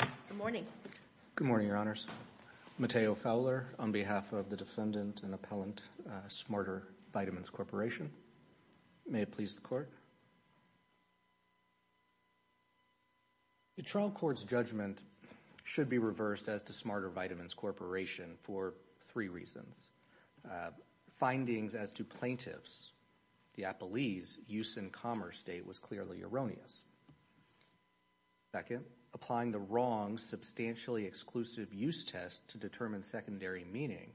Good morning. Good morning, Your Honors. Matteo Fowler on behalf of the defendant and appellant Smartervitamins Corporation. May it please the Court. The trial court's judgment should be reversed as to Smartervitamins Corporation for three reasons. Findings as to plaintiff's, the appellee's use in commerce state was clearly erroneous. Second, applying the wrong substantially exclusive use test to determine secondary meaning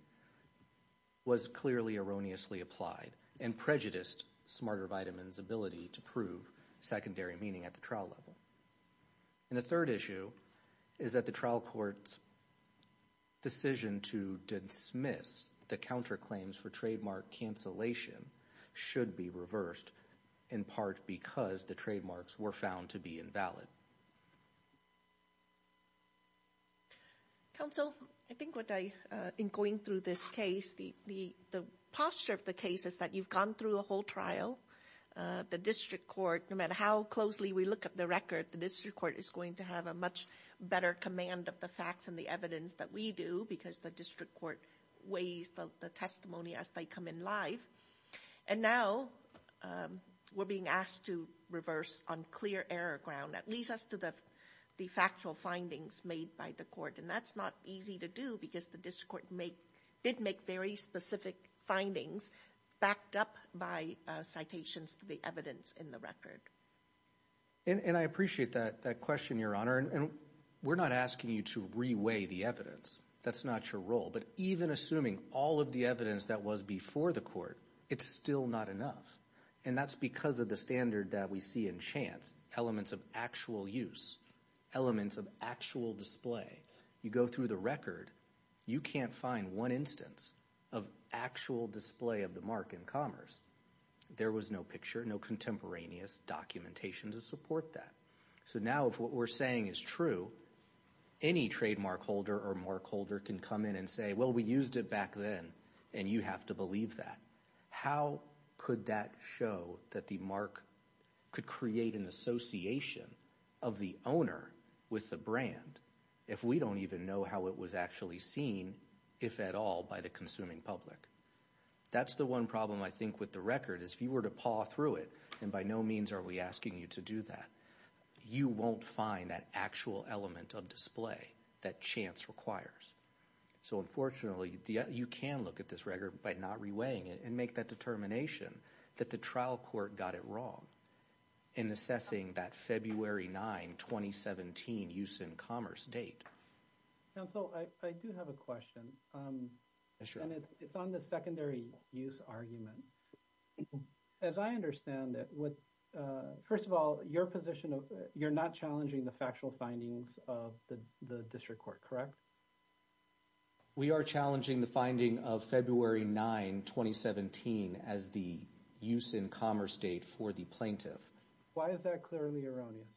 was clearly erroneously applied and prejudiced Smartervitamins' ability to prove secondary meaning at the trial level. And the third issue is that the trial court's decision to dismiss the counterclaims for trademark cancellation should be reversed in part because the trademarks were found to be invalid. Justice Sotomayor Counsel, I think what I, in going through this case, the posture of the case is that you've gone through a whole trial. The district court, no matter how closely we look at the record, the district court is going to have a much better command of the facts and the evidence that we do because the district court weighs the testimony as they come in live. And now we're being asked to reverse on clear error ground, at least as to the factual findings made by the court. And that's not easy to do because the district court did make very specific findings backed up by citations to the evidence in the record. And I appreciate that question, Your Honor. And we're not asking you to re-weigh the evidence. That's not your role. But even assuming all of the evidence that was before the court, it's still not enough. And that's because of the standard that we see in chance, elements of actual use, elements of actual display. You go through the record, you can't find one instance of actual display of the mark in commerce. There was no picture, no contemporaneous documentation to support that. So now if what we're saying is true, any trademark holder or mark holder can come in and say, well, we used it back then, and you have to believe that. How could that show that the mark could create an association of the owner with the brand if we don't even know how it was actually seen, if at all, by the consuming public? That's the one problem, I think, with the record is if you were to paw through it, and by no means are we asking you to do that, you won't find that actual element of display that chance requires. So unfortunately, you can look at this record by not reweighing it and make that determination that the trial court got it wrong in assessing that February 9, 2017 use in commerce date. Counsel, I do have a question. Sure. And it's on the secondary use argument. As I understand it, first of all, your position you're not challenging the factual findings of the district court, correct? We are challenging the finding of February 9, 2017 as the use in commerce date for the plaintiff. Why is that clearly erroneous?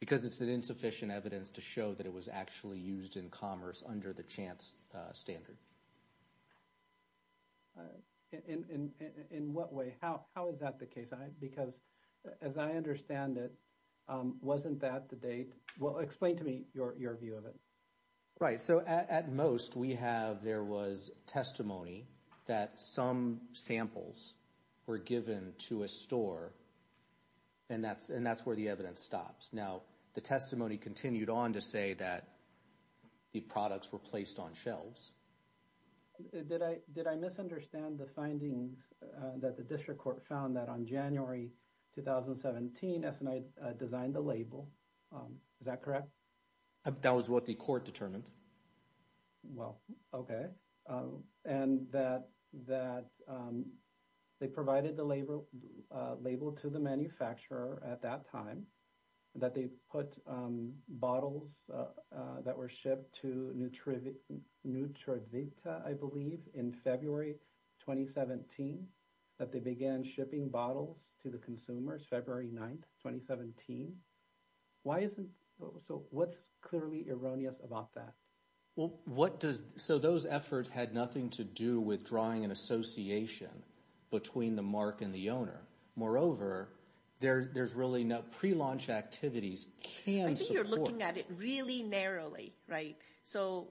Because it's an insufficient evidence to show that it was actually used in commerce under the chance standard. In what way? How is that the case? Because as I understand it, wasn't that the date? Well, explain to me your view of it. Right. So at most, we have, there was testimony that some samples were given to a store, and that's where the evidence stops. Now, the testimony continued on to say that the products were placed on shelves. Did I misunderstand the findings that the district court found that on January 2017, S&I designed a label? Is that correct? That was what the court determined. Well, okay. And that they provided the label to the manufacturer at that time, that they put bottles that were shipped to Nutravita, I believe, in February 2017, that they began shipping bottles to the consumers, February 9, 2017. Why isn't, so what's clearly erroneous about that? Well, what does, so those efforts had nothing to do with drawing an association between the mark and the owner. Moreover, there's really no, pre-launch activities can support- I think you're looking at it really narrowly, right? So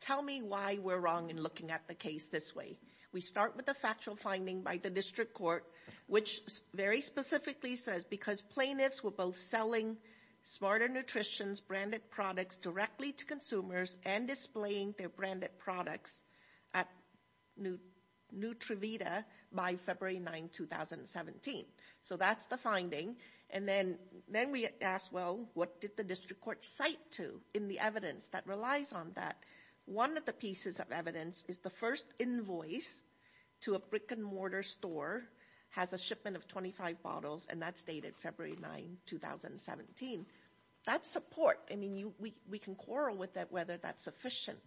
tell me why we're wrong in looking at the case this way. We start with the factual finding by the district court, which very specifically says, because plaintiffs were both selling Smarter Nutrition's branded products directly to consumers and displaying their branded products at Nutravita by February 9, 2017. So that's the finding. And then we asked, well, what did the district court cite to in the evidence that relies on that? One of the pieces of evidence is the first invoice to a brick and mortar store has a We can quarrel with that whether that's sufficient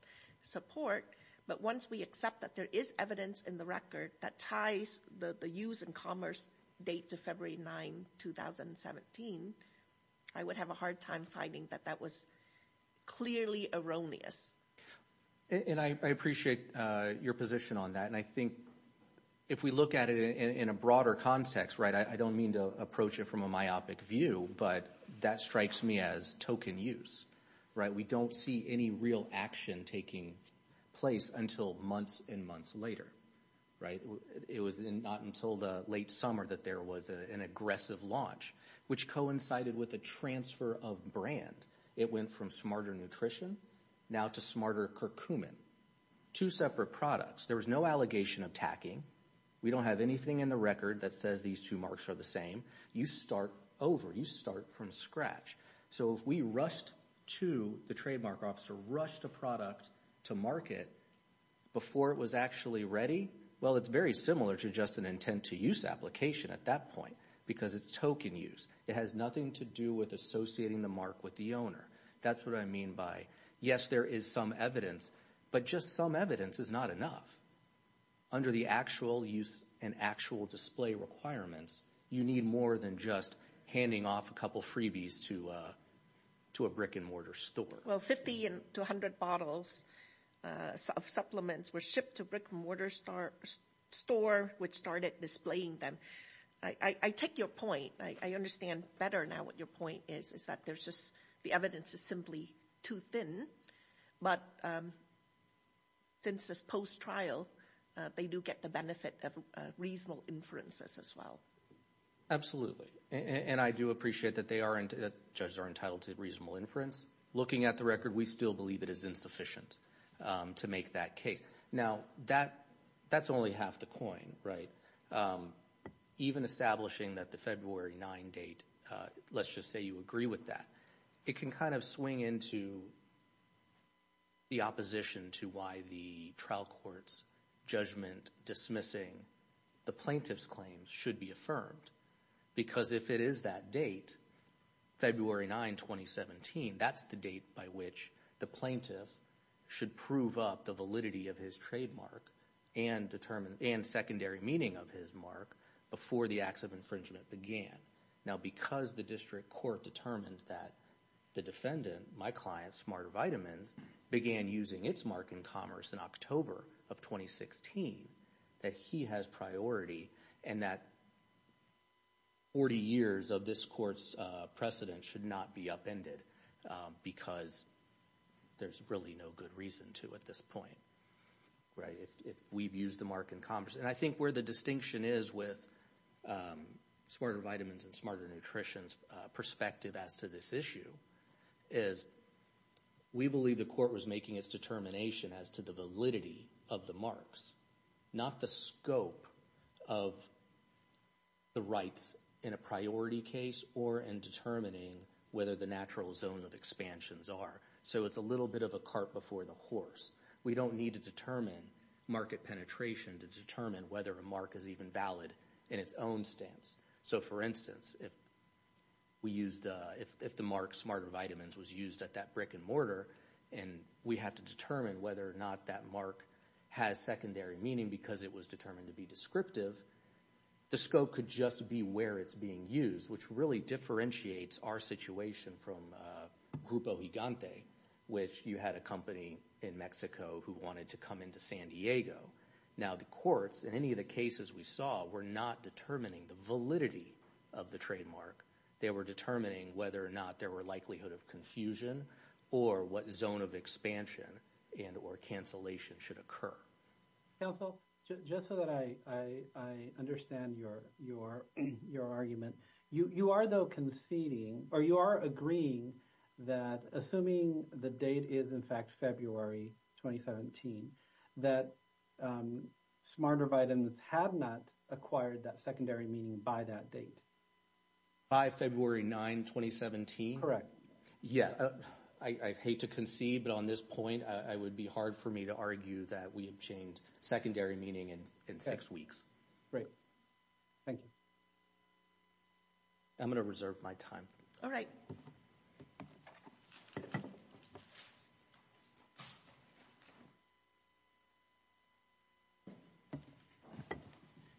support, but once we accept that there is evidence in the record that ties the use and commerce date to February 9, 2017, I would have a hard time finding that that was clearly erroneous. And I appreciate your position on that. And I think if we look at it in a broader context, right, I don't mean to approach it from a myopic view, but that strikes me as token use, right? We don't see any real action taking place until months and months later, right? It was not until the late summer that there was an aggressive launch, which coincided with a transfer of brand. It went from Smarter Nutrition now to Smarter Curcumin, two separate products. There was no allegation of tacking. We don't have anything in the record that says these two marks are the same. You start over. You start from scratch. So if we rushed to the trademark officer, rushed a product to market before it was actually ready, well, it's very similar to just an intent to use application at that point because it's token use. It has nothing to do with associating the mark with the owner. That's what I mean by yes, there is some evidence, but just some evidence is not enough under the actual use and actual display requirements. You need more than just handing off a couple freebies to a brick-and-mortar store. Well, 50 to 100 bottles of supplements were shipped to brick-and-mortar store, which started displaying them. I take your point. I understand better now what your point is, is that there's just the evidence is simply too thin, but since this post-trial, they do get the benefit of reasonable inferences as well. Absolutely, and I do appreciate that judges are entitled to reasonable inference. Looking at the record, we still believe it is insufficient to make that case. Now, that's only half the coin, right? Even establishing that the February 9 date, let's just say you agree with that, it can kind of swing into the opposition to why the trial court's judgment dismissing the plaintiff's claims should be affirmed, because if it is that date, February 9, 2017, that's the date by which the plaintiff should prove up the validity of his trademark and secondary meaning of his mark before the acts of infringement began. Now, because the district court determined that the defendant, my client, Smarter Vitamins, began using its mark in commerce in October of 2016, that he has priority and that 40 years of this court's precedent should not be upended, because there's really no good reason to at this point, right, if we've used the mark in commerce. And I think where the distinction is with Smarter Vitamins and Smarter Nutrition's perspective as to this issue is we believe the court was making its determination as to the validity of the marks, not the scope of the rights in a priority case or in determining whether the natural zone of expansions are. So it's a little bit of a cart before the horse. We don't need to determine market penetration to determine whether a mark is even valid in its own stance. So, for instance, if the mark Smarter Vitamins was used at that brick and mortar and we have to determine whether or not that mark has secondary meaning because it was determined to be descriptive, the scope could just be where it's being used, which really differentiates our situation from Grupo Gigante, which you had a company in Mexico who wanted to come into San Diego. Now the courts, in any of the cases we saw, were not determining the validity of the trademark. They were determining whether or not there were likelihood of confusion or what zone of expansion and or cancellation should occur. Council, just so that I understand your argument, you are though conceding, or you are agreeing that assuming the date is, in fact, February 2017, that Smarter Vitamins have not acquired that secondary meaning by that date? By February 9, 2017? Correct. Yeah. I hate to concede, but on this point, it would be hard for me to argue that we obtained secondary meaning in six weeks. Great. Thank you. I'm going to reserve my time. All right.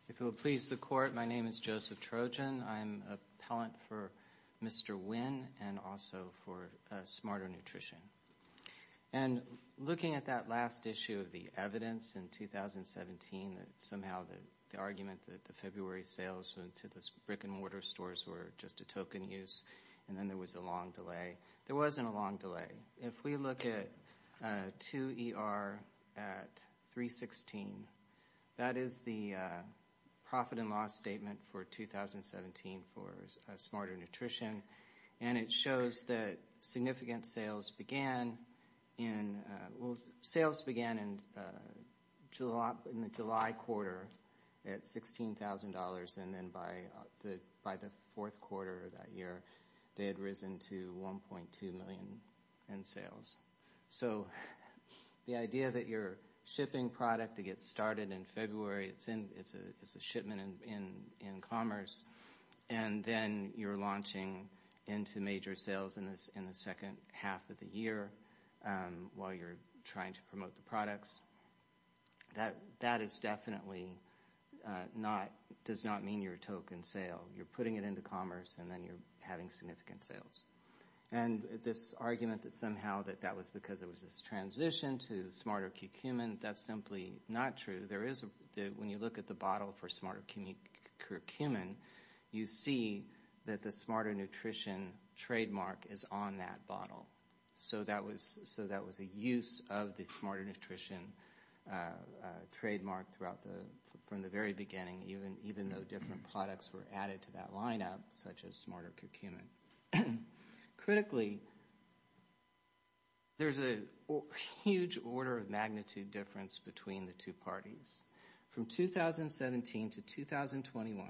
If it will please the court, my name is Joseph Trojan. I'm an appellant for Mr. Wynn and also for Smarter Nutrition. And looking at that last issue of the evidence in 2017, that somehow the argument that the February sales went to those brick and mortar stores were just a token use, and then there was a long delay. There wasn't a long delay. If we look at 2ER at 316, that is the profit and loss statement for 2017 for Smarter Nutrition, and it shows that significant sales began in July quarter at $16,000, and then by the fourth quarter of that year, they had risen to $1.2 million in sales. So the idea that you're shipping product to get started in February, it's a shipment in commerce, and then you're launching into major sales in the second half of the year while you're trying to promote the products, that is definitely not, does not mean you're a token sale. You're putting it into commerce, and then you're having significant sales. And this argument that somehow that that was because there was this transition to Smarter Curcumin, that's simply not true. There is a, when you look at the bottle for Smarter Curcumin, you see that the Smarter Nutrition trademark is on that bottle. So that was a use of the Smarter Nutrition trademark throughout the, from the very beginning, even though different products were added to that lineup, such as Smarter Curcumin. Critically, there's a huge order of magnitude difference between the two parties. From 2017 to 2021,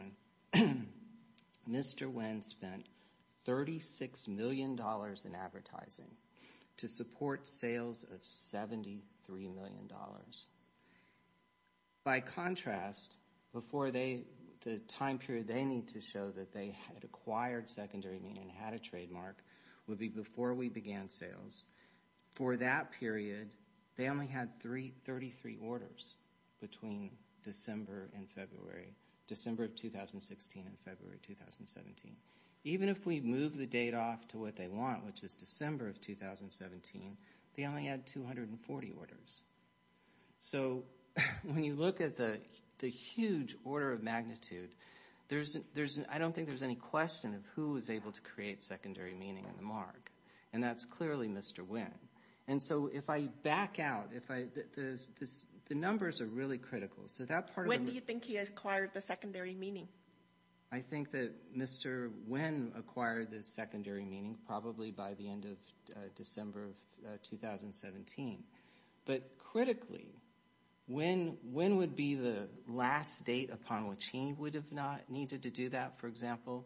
Mr. Nguyen spent $36 million in advertising to support sales of $73 million. By contrast, before they, the time period they needed to show that they had acquired Secondary and had a trademark would be before we began sales. For that period, they only had three, 33 orders between December and February, December of 2016 and February 2017. Even if we move the date off to what they want, which is December of 2017, they only had 240 orders. So when you look at the huge order of magnitude, there's, I don't think there's any question of who was able to create Secondary Meaning on the mark, and that's clearly Mr. Nguyen. And so if I back out, if I, the numbers are really critical. So that part of the... When do you think he acquired the Secondary Meaning? I think that Mr. Nguyen acquired the Secondary Meaning probably by the end of December of 2017. But critically, when would be the last date upon which he would have not needed to do that? For example,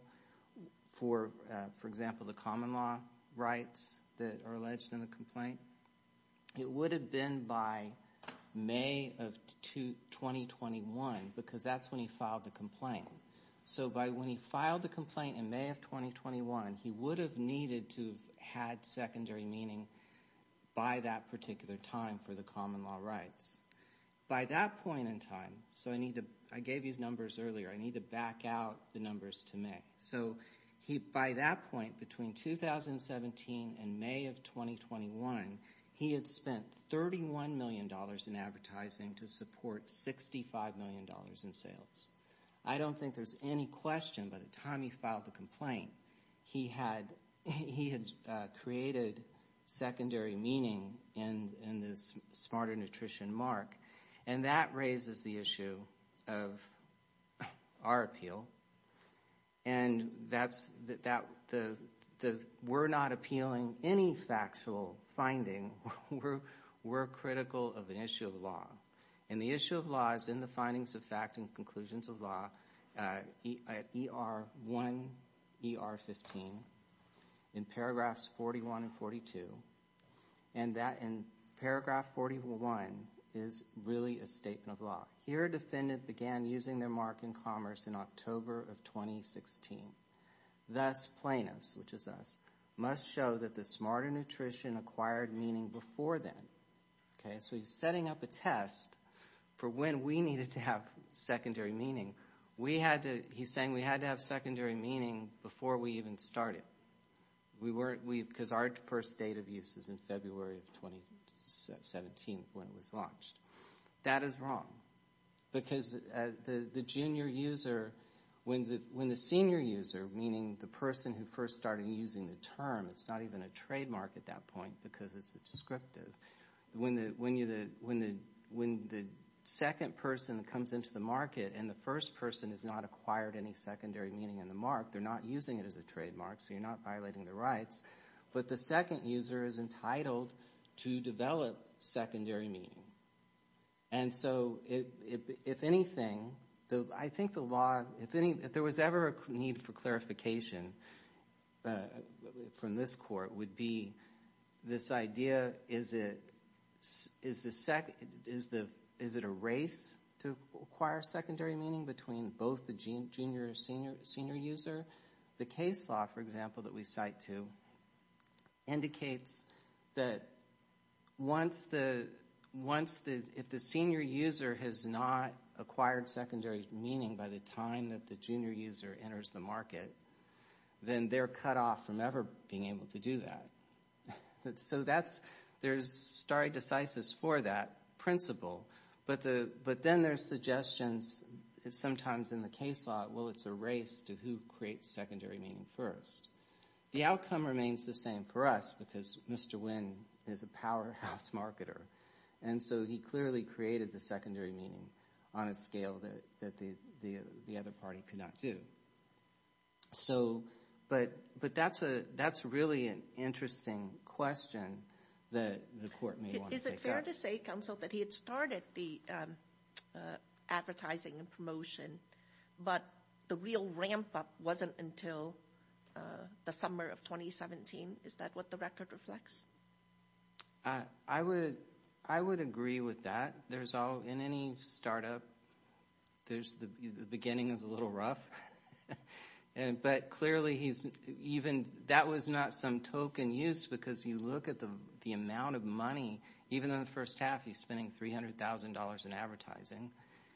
the common law rights that are alleged in the complaint? It would have been by May of 2021, because that's when he filed the complaint. So by when he filed the complaint in May of 2021, he would have needed to have had Secondary Meaning by that particular time for the common law rights. By that point in time, so I need to, I gave you the numbers earlier, I need to back out the numbers to May. So he, by that point, between 2017 and May of 2021, he had spent $31 million in advertising to support $65 million in sales. I don't think there's any question by the time he filed the complaint, he had, he had created Secondary Meaning in this Smarter Nutrition mark. And that raises the issue of our appeal. And that's, we're not appealing any factual finding. We're critical of an issue of law. And the issue of law is in the findings of fact and conclusions of law. ER1, ER15, in paragraphs 41 and 42. And that in paragraph 41 is really a statement of law. Here a defendant began using their mark in commerce in October of 2016. Thus plaintiffs, which is us, must show that the Smarter Nutrition acquired meaning before then. Okay, so he's setting up a test for when we needed to have Secondary Meaning. We had to, he's saying we had to have Secondary Meaning before we even started. We weren't, we, because our first date of use is in February of 2017 when it was launched. That is wrong. Because the junior user, when the, when the senior user, meaning the person who first started using the term, it's not even a trademark at that point because it's descriptive. When the second person comes into the market and the first person has not acquired any Secondary Meaning in the mark, they're not using it as a trademark, so you're not violating their rights. But the second user is entitled to develop Secondary Meaning. And so if anything, I think the law, if there was ever a need for clarification from this court, would be this idea, is it a race to acquire Secondary Meaning between both the junior and senior user? The case law, for example, that we cite to indicates that once the, if the senior user has not acquired Secondary Meaning by the time that the junior user enters the market, then they're cut off from ever being able to do that. So that's, there's stare decisis for that principle, but then there's suggestions, sometimes in the case law, well, it's a race to who creates Secondary Meaning first. The outcome remains the same for us because Mr. Nguyen is a powerhouse marketer. And so he clearly created the Secondary Meaning on a scale that the other party could not do. So, but that's a, that's really an interesting question that the court may want to take up. Is it fair to say, counsel, that he had started the advertising and promotion, but the real ramp up wasn't until the summer of 2017? Is that what the record reflects? I would, I would agree with that. There's all, in any startup, there's, the beginning is a little rough. But clearly he's, even, that was not some token use because you look at the amount of money, even in the first half he's spending $300,000 in advertising.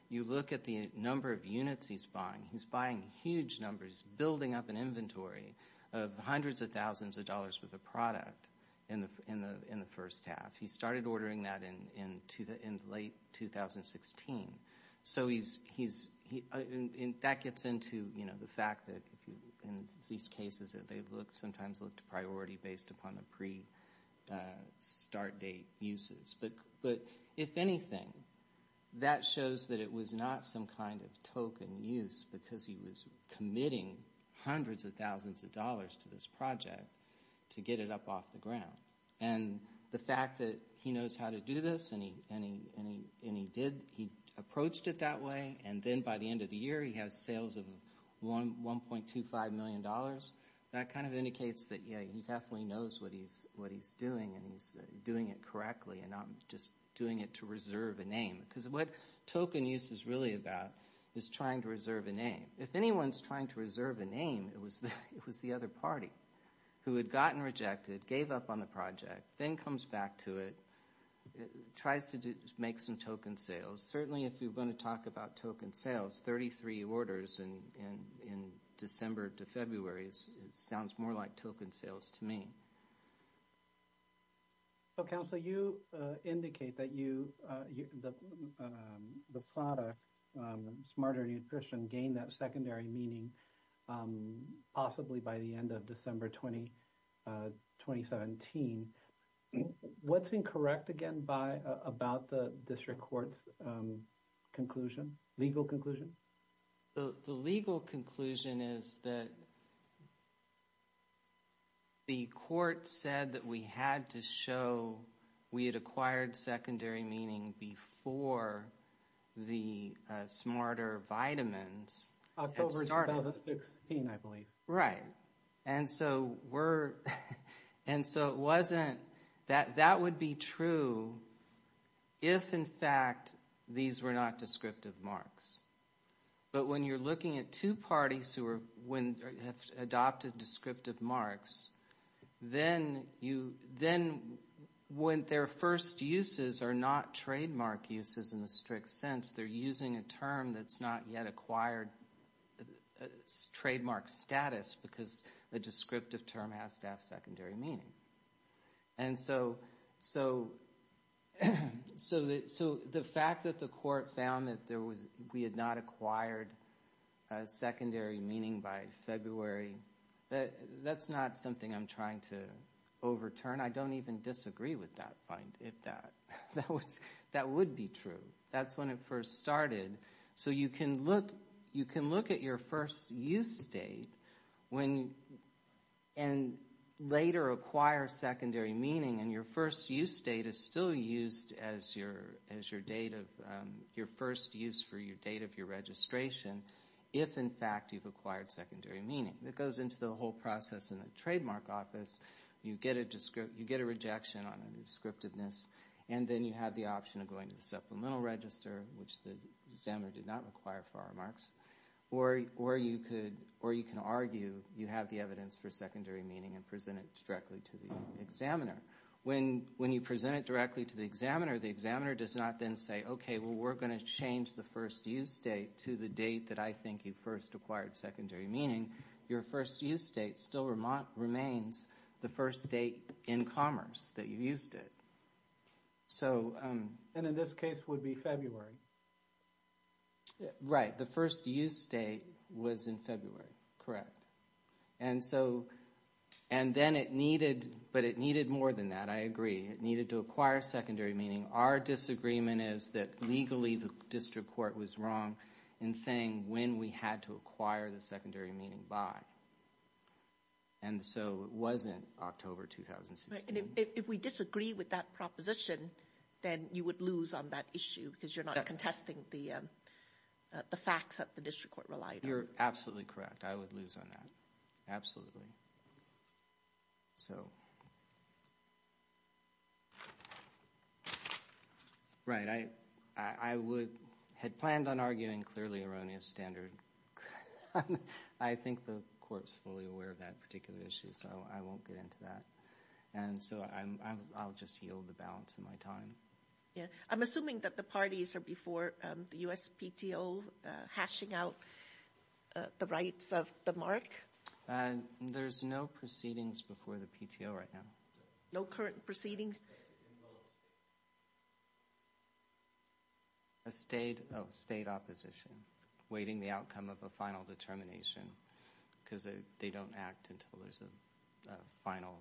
You look at the number of units he's buying, he's buying huge numbers, he's building up an inventory of hundreds of thousands of dollars worth of product in the first half. He started ordering that in late 2016. So he's, he's, and that gets into, you know, the fact that in these cases that they look, sometimes look to priority based upon the pre-start date uses. But, but if anything, that shows that it was not some kind of token use because he was committing hundreds of thousands of dollars to this project to get it up off the ground. And the fact that he knows how to do this and he, and he, and he did, he approached it that way, and then by the end of the year he has sales of $1.25 million. That kind of indicates that, yeah, he definitely knows what he's, what he's doing, and he's doing it correctly and not just doing it to reserve a name. Because what token use is really about is trying to reserve a name. If anyone's trying to reserve a name, it was, it was the other party who had gotten rejected, gave up on the project, then comes back to it, tries to do, make some token sales. Certainly if you're going to talk about token sales, that's 33 orders in December to February. It sounds more like token sales to me. Well, Counselor, you indicate that you, the product, Smarter Nutrition, gained that secondary meaning possibly by the end of December 2017. What's incorrect again by, about the district court's conclusion, legal conclusion? The legal conclusion is that the court said that we had to show we had acquired secondary meaning before the Smarter Vitamins had started. October 2016, I believe. Right. And so we're, and so it wasn't, that, that would be true if, in fact, these were not descriptive marks. But when you're looking at two parties who are, when have adopted descriptive marks, then you, then when their first uses are not trademark uses in the strict sense, they're using a term that's not yet acquired trademark status because the descriptive term has to have secondary meaning. And so, so, so the fact that the court found that there was, we had not acquired secondary meaning by February, that's not something I'm trying to overturn. I don't even disagree with that, if that, that would be true. That's when it first started. So you can look, you can look at your first use date when, and later acquire secondary meaning, and your first use date is still used as your, as your date of, your first use for your date of your registration, if, in fact, you've acquired secondary meaning. It goes into the whole process in the trademark office. You get a, you get a rejection on a descriptiveness, and then you have the option of going to the supplemental register, which the examiner did not require for our marks. Or, or you could, or you can argue you have the evidence for secondary meaning and present it directly to the examiner. When, when you present it directly to the examiner, the examiner does not then say, okay, well we're going to change the first use date to the date that I think you first acquired secondary meaning. Your first use date still remains the first date in commerce that you used it. And in this case would be February. Right. The first use date was in February. Correct. And so, and then it needed, but it needed more than that. I agree. It needed to acquire secondary meaning. Our disagreement is that legally the district court was wrong in saying when we had to acquire the secondary meaning by. And so it wasn't October 2016. If we disagree with that proposition, then you would lose on that issue, because you're not contesting the facts that the district court relied on. You're absolutely correct. I would lose on that. Absolutely. So. Right. I would, had planned on arguing clearly erroneous standard. I think the court's fully aware of that particular issue, so I won't get into that. And so I'll just yield the balance of my time. Yeah. I'm assuming that the parties are before the USPTO hashing out the rights of the mark. There's no proceedings before the PTO right now. No current proceedings? A state, a state opposition, waiting the outcome of a final determination, because they don't act until there's a final,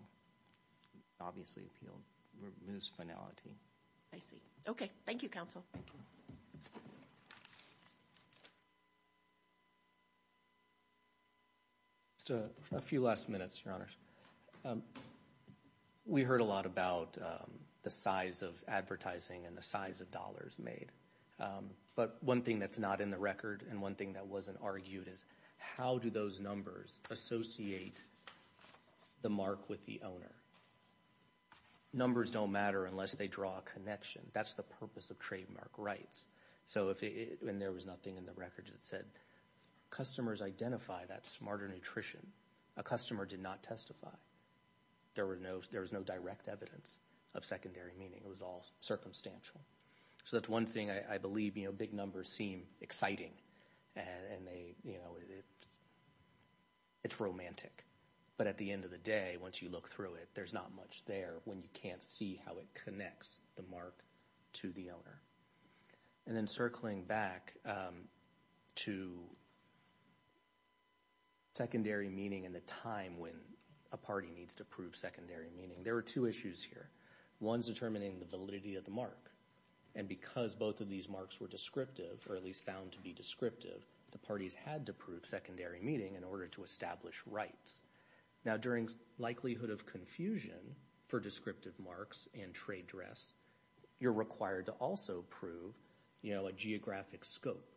obviously appealed, removes finality. I see. Okay. Thank you, counsel. Just a few last minutes, Your Honors. We heard a lot about the size of advertising and the size of dollars made. But one thing that's not in the record and one thing that wasn't argued is, how do those numbers associate the mark with the owner? Numbers don't matter unless they draw a connection. That's the purpose of trademark rights. So if it, and there was nothing in the records that said, customers identify that smarter nutrition. A customer did not testify. There were no, there was no direct evidence of secondary meaning. It was all circumstantial. So that's one thing I believe, you know, big numbers seem exciting. And they, you know, it's romantic. But at the end of the day, once you look through it, there's not much there when you can't see how it connects the mark to the owner. And then circling back to secondary meaning and the time when a party needs to prove secondary meaning. There were two issues here. One's determining the validity of the mark. And because both of these marks were descriptive, or at least found to be descriptive, the parties had to prove secondary meaning in order to establish rights. Now, during likelihood of confusion for descriptive marks and trade dress, you're required to also prove, you know, a geographic scope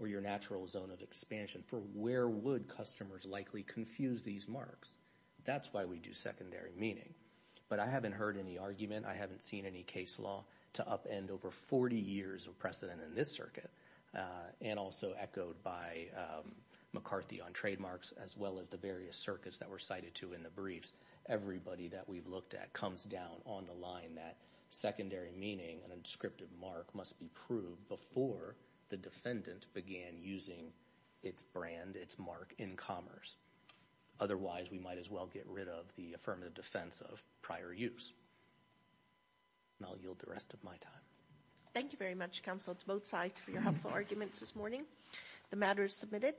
or your natural zone of expansion for where would customers likely confuse these marks. That's why we do secondary meaning. But I haven't heard any argument. I haven't seen any case law to upend over 40 years of precedent in this circuit. And also echoed by McCarthy on trademarks, as well as the various circuits that were cited to in the briefs. Everybody that we've looked at comes down on the line that secondary meaning, an unscripted mark must be proved before the defendant began using its brand, its mark in commerce. Otherwise, we might as well get rid of the affirmative defense of prior use. And I'll yield the rest of my time. Thank you very much, counsel, to both sides for your helpful arguments this morning. The matter is submitted.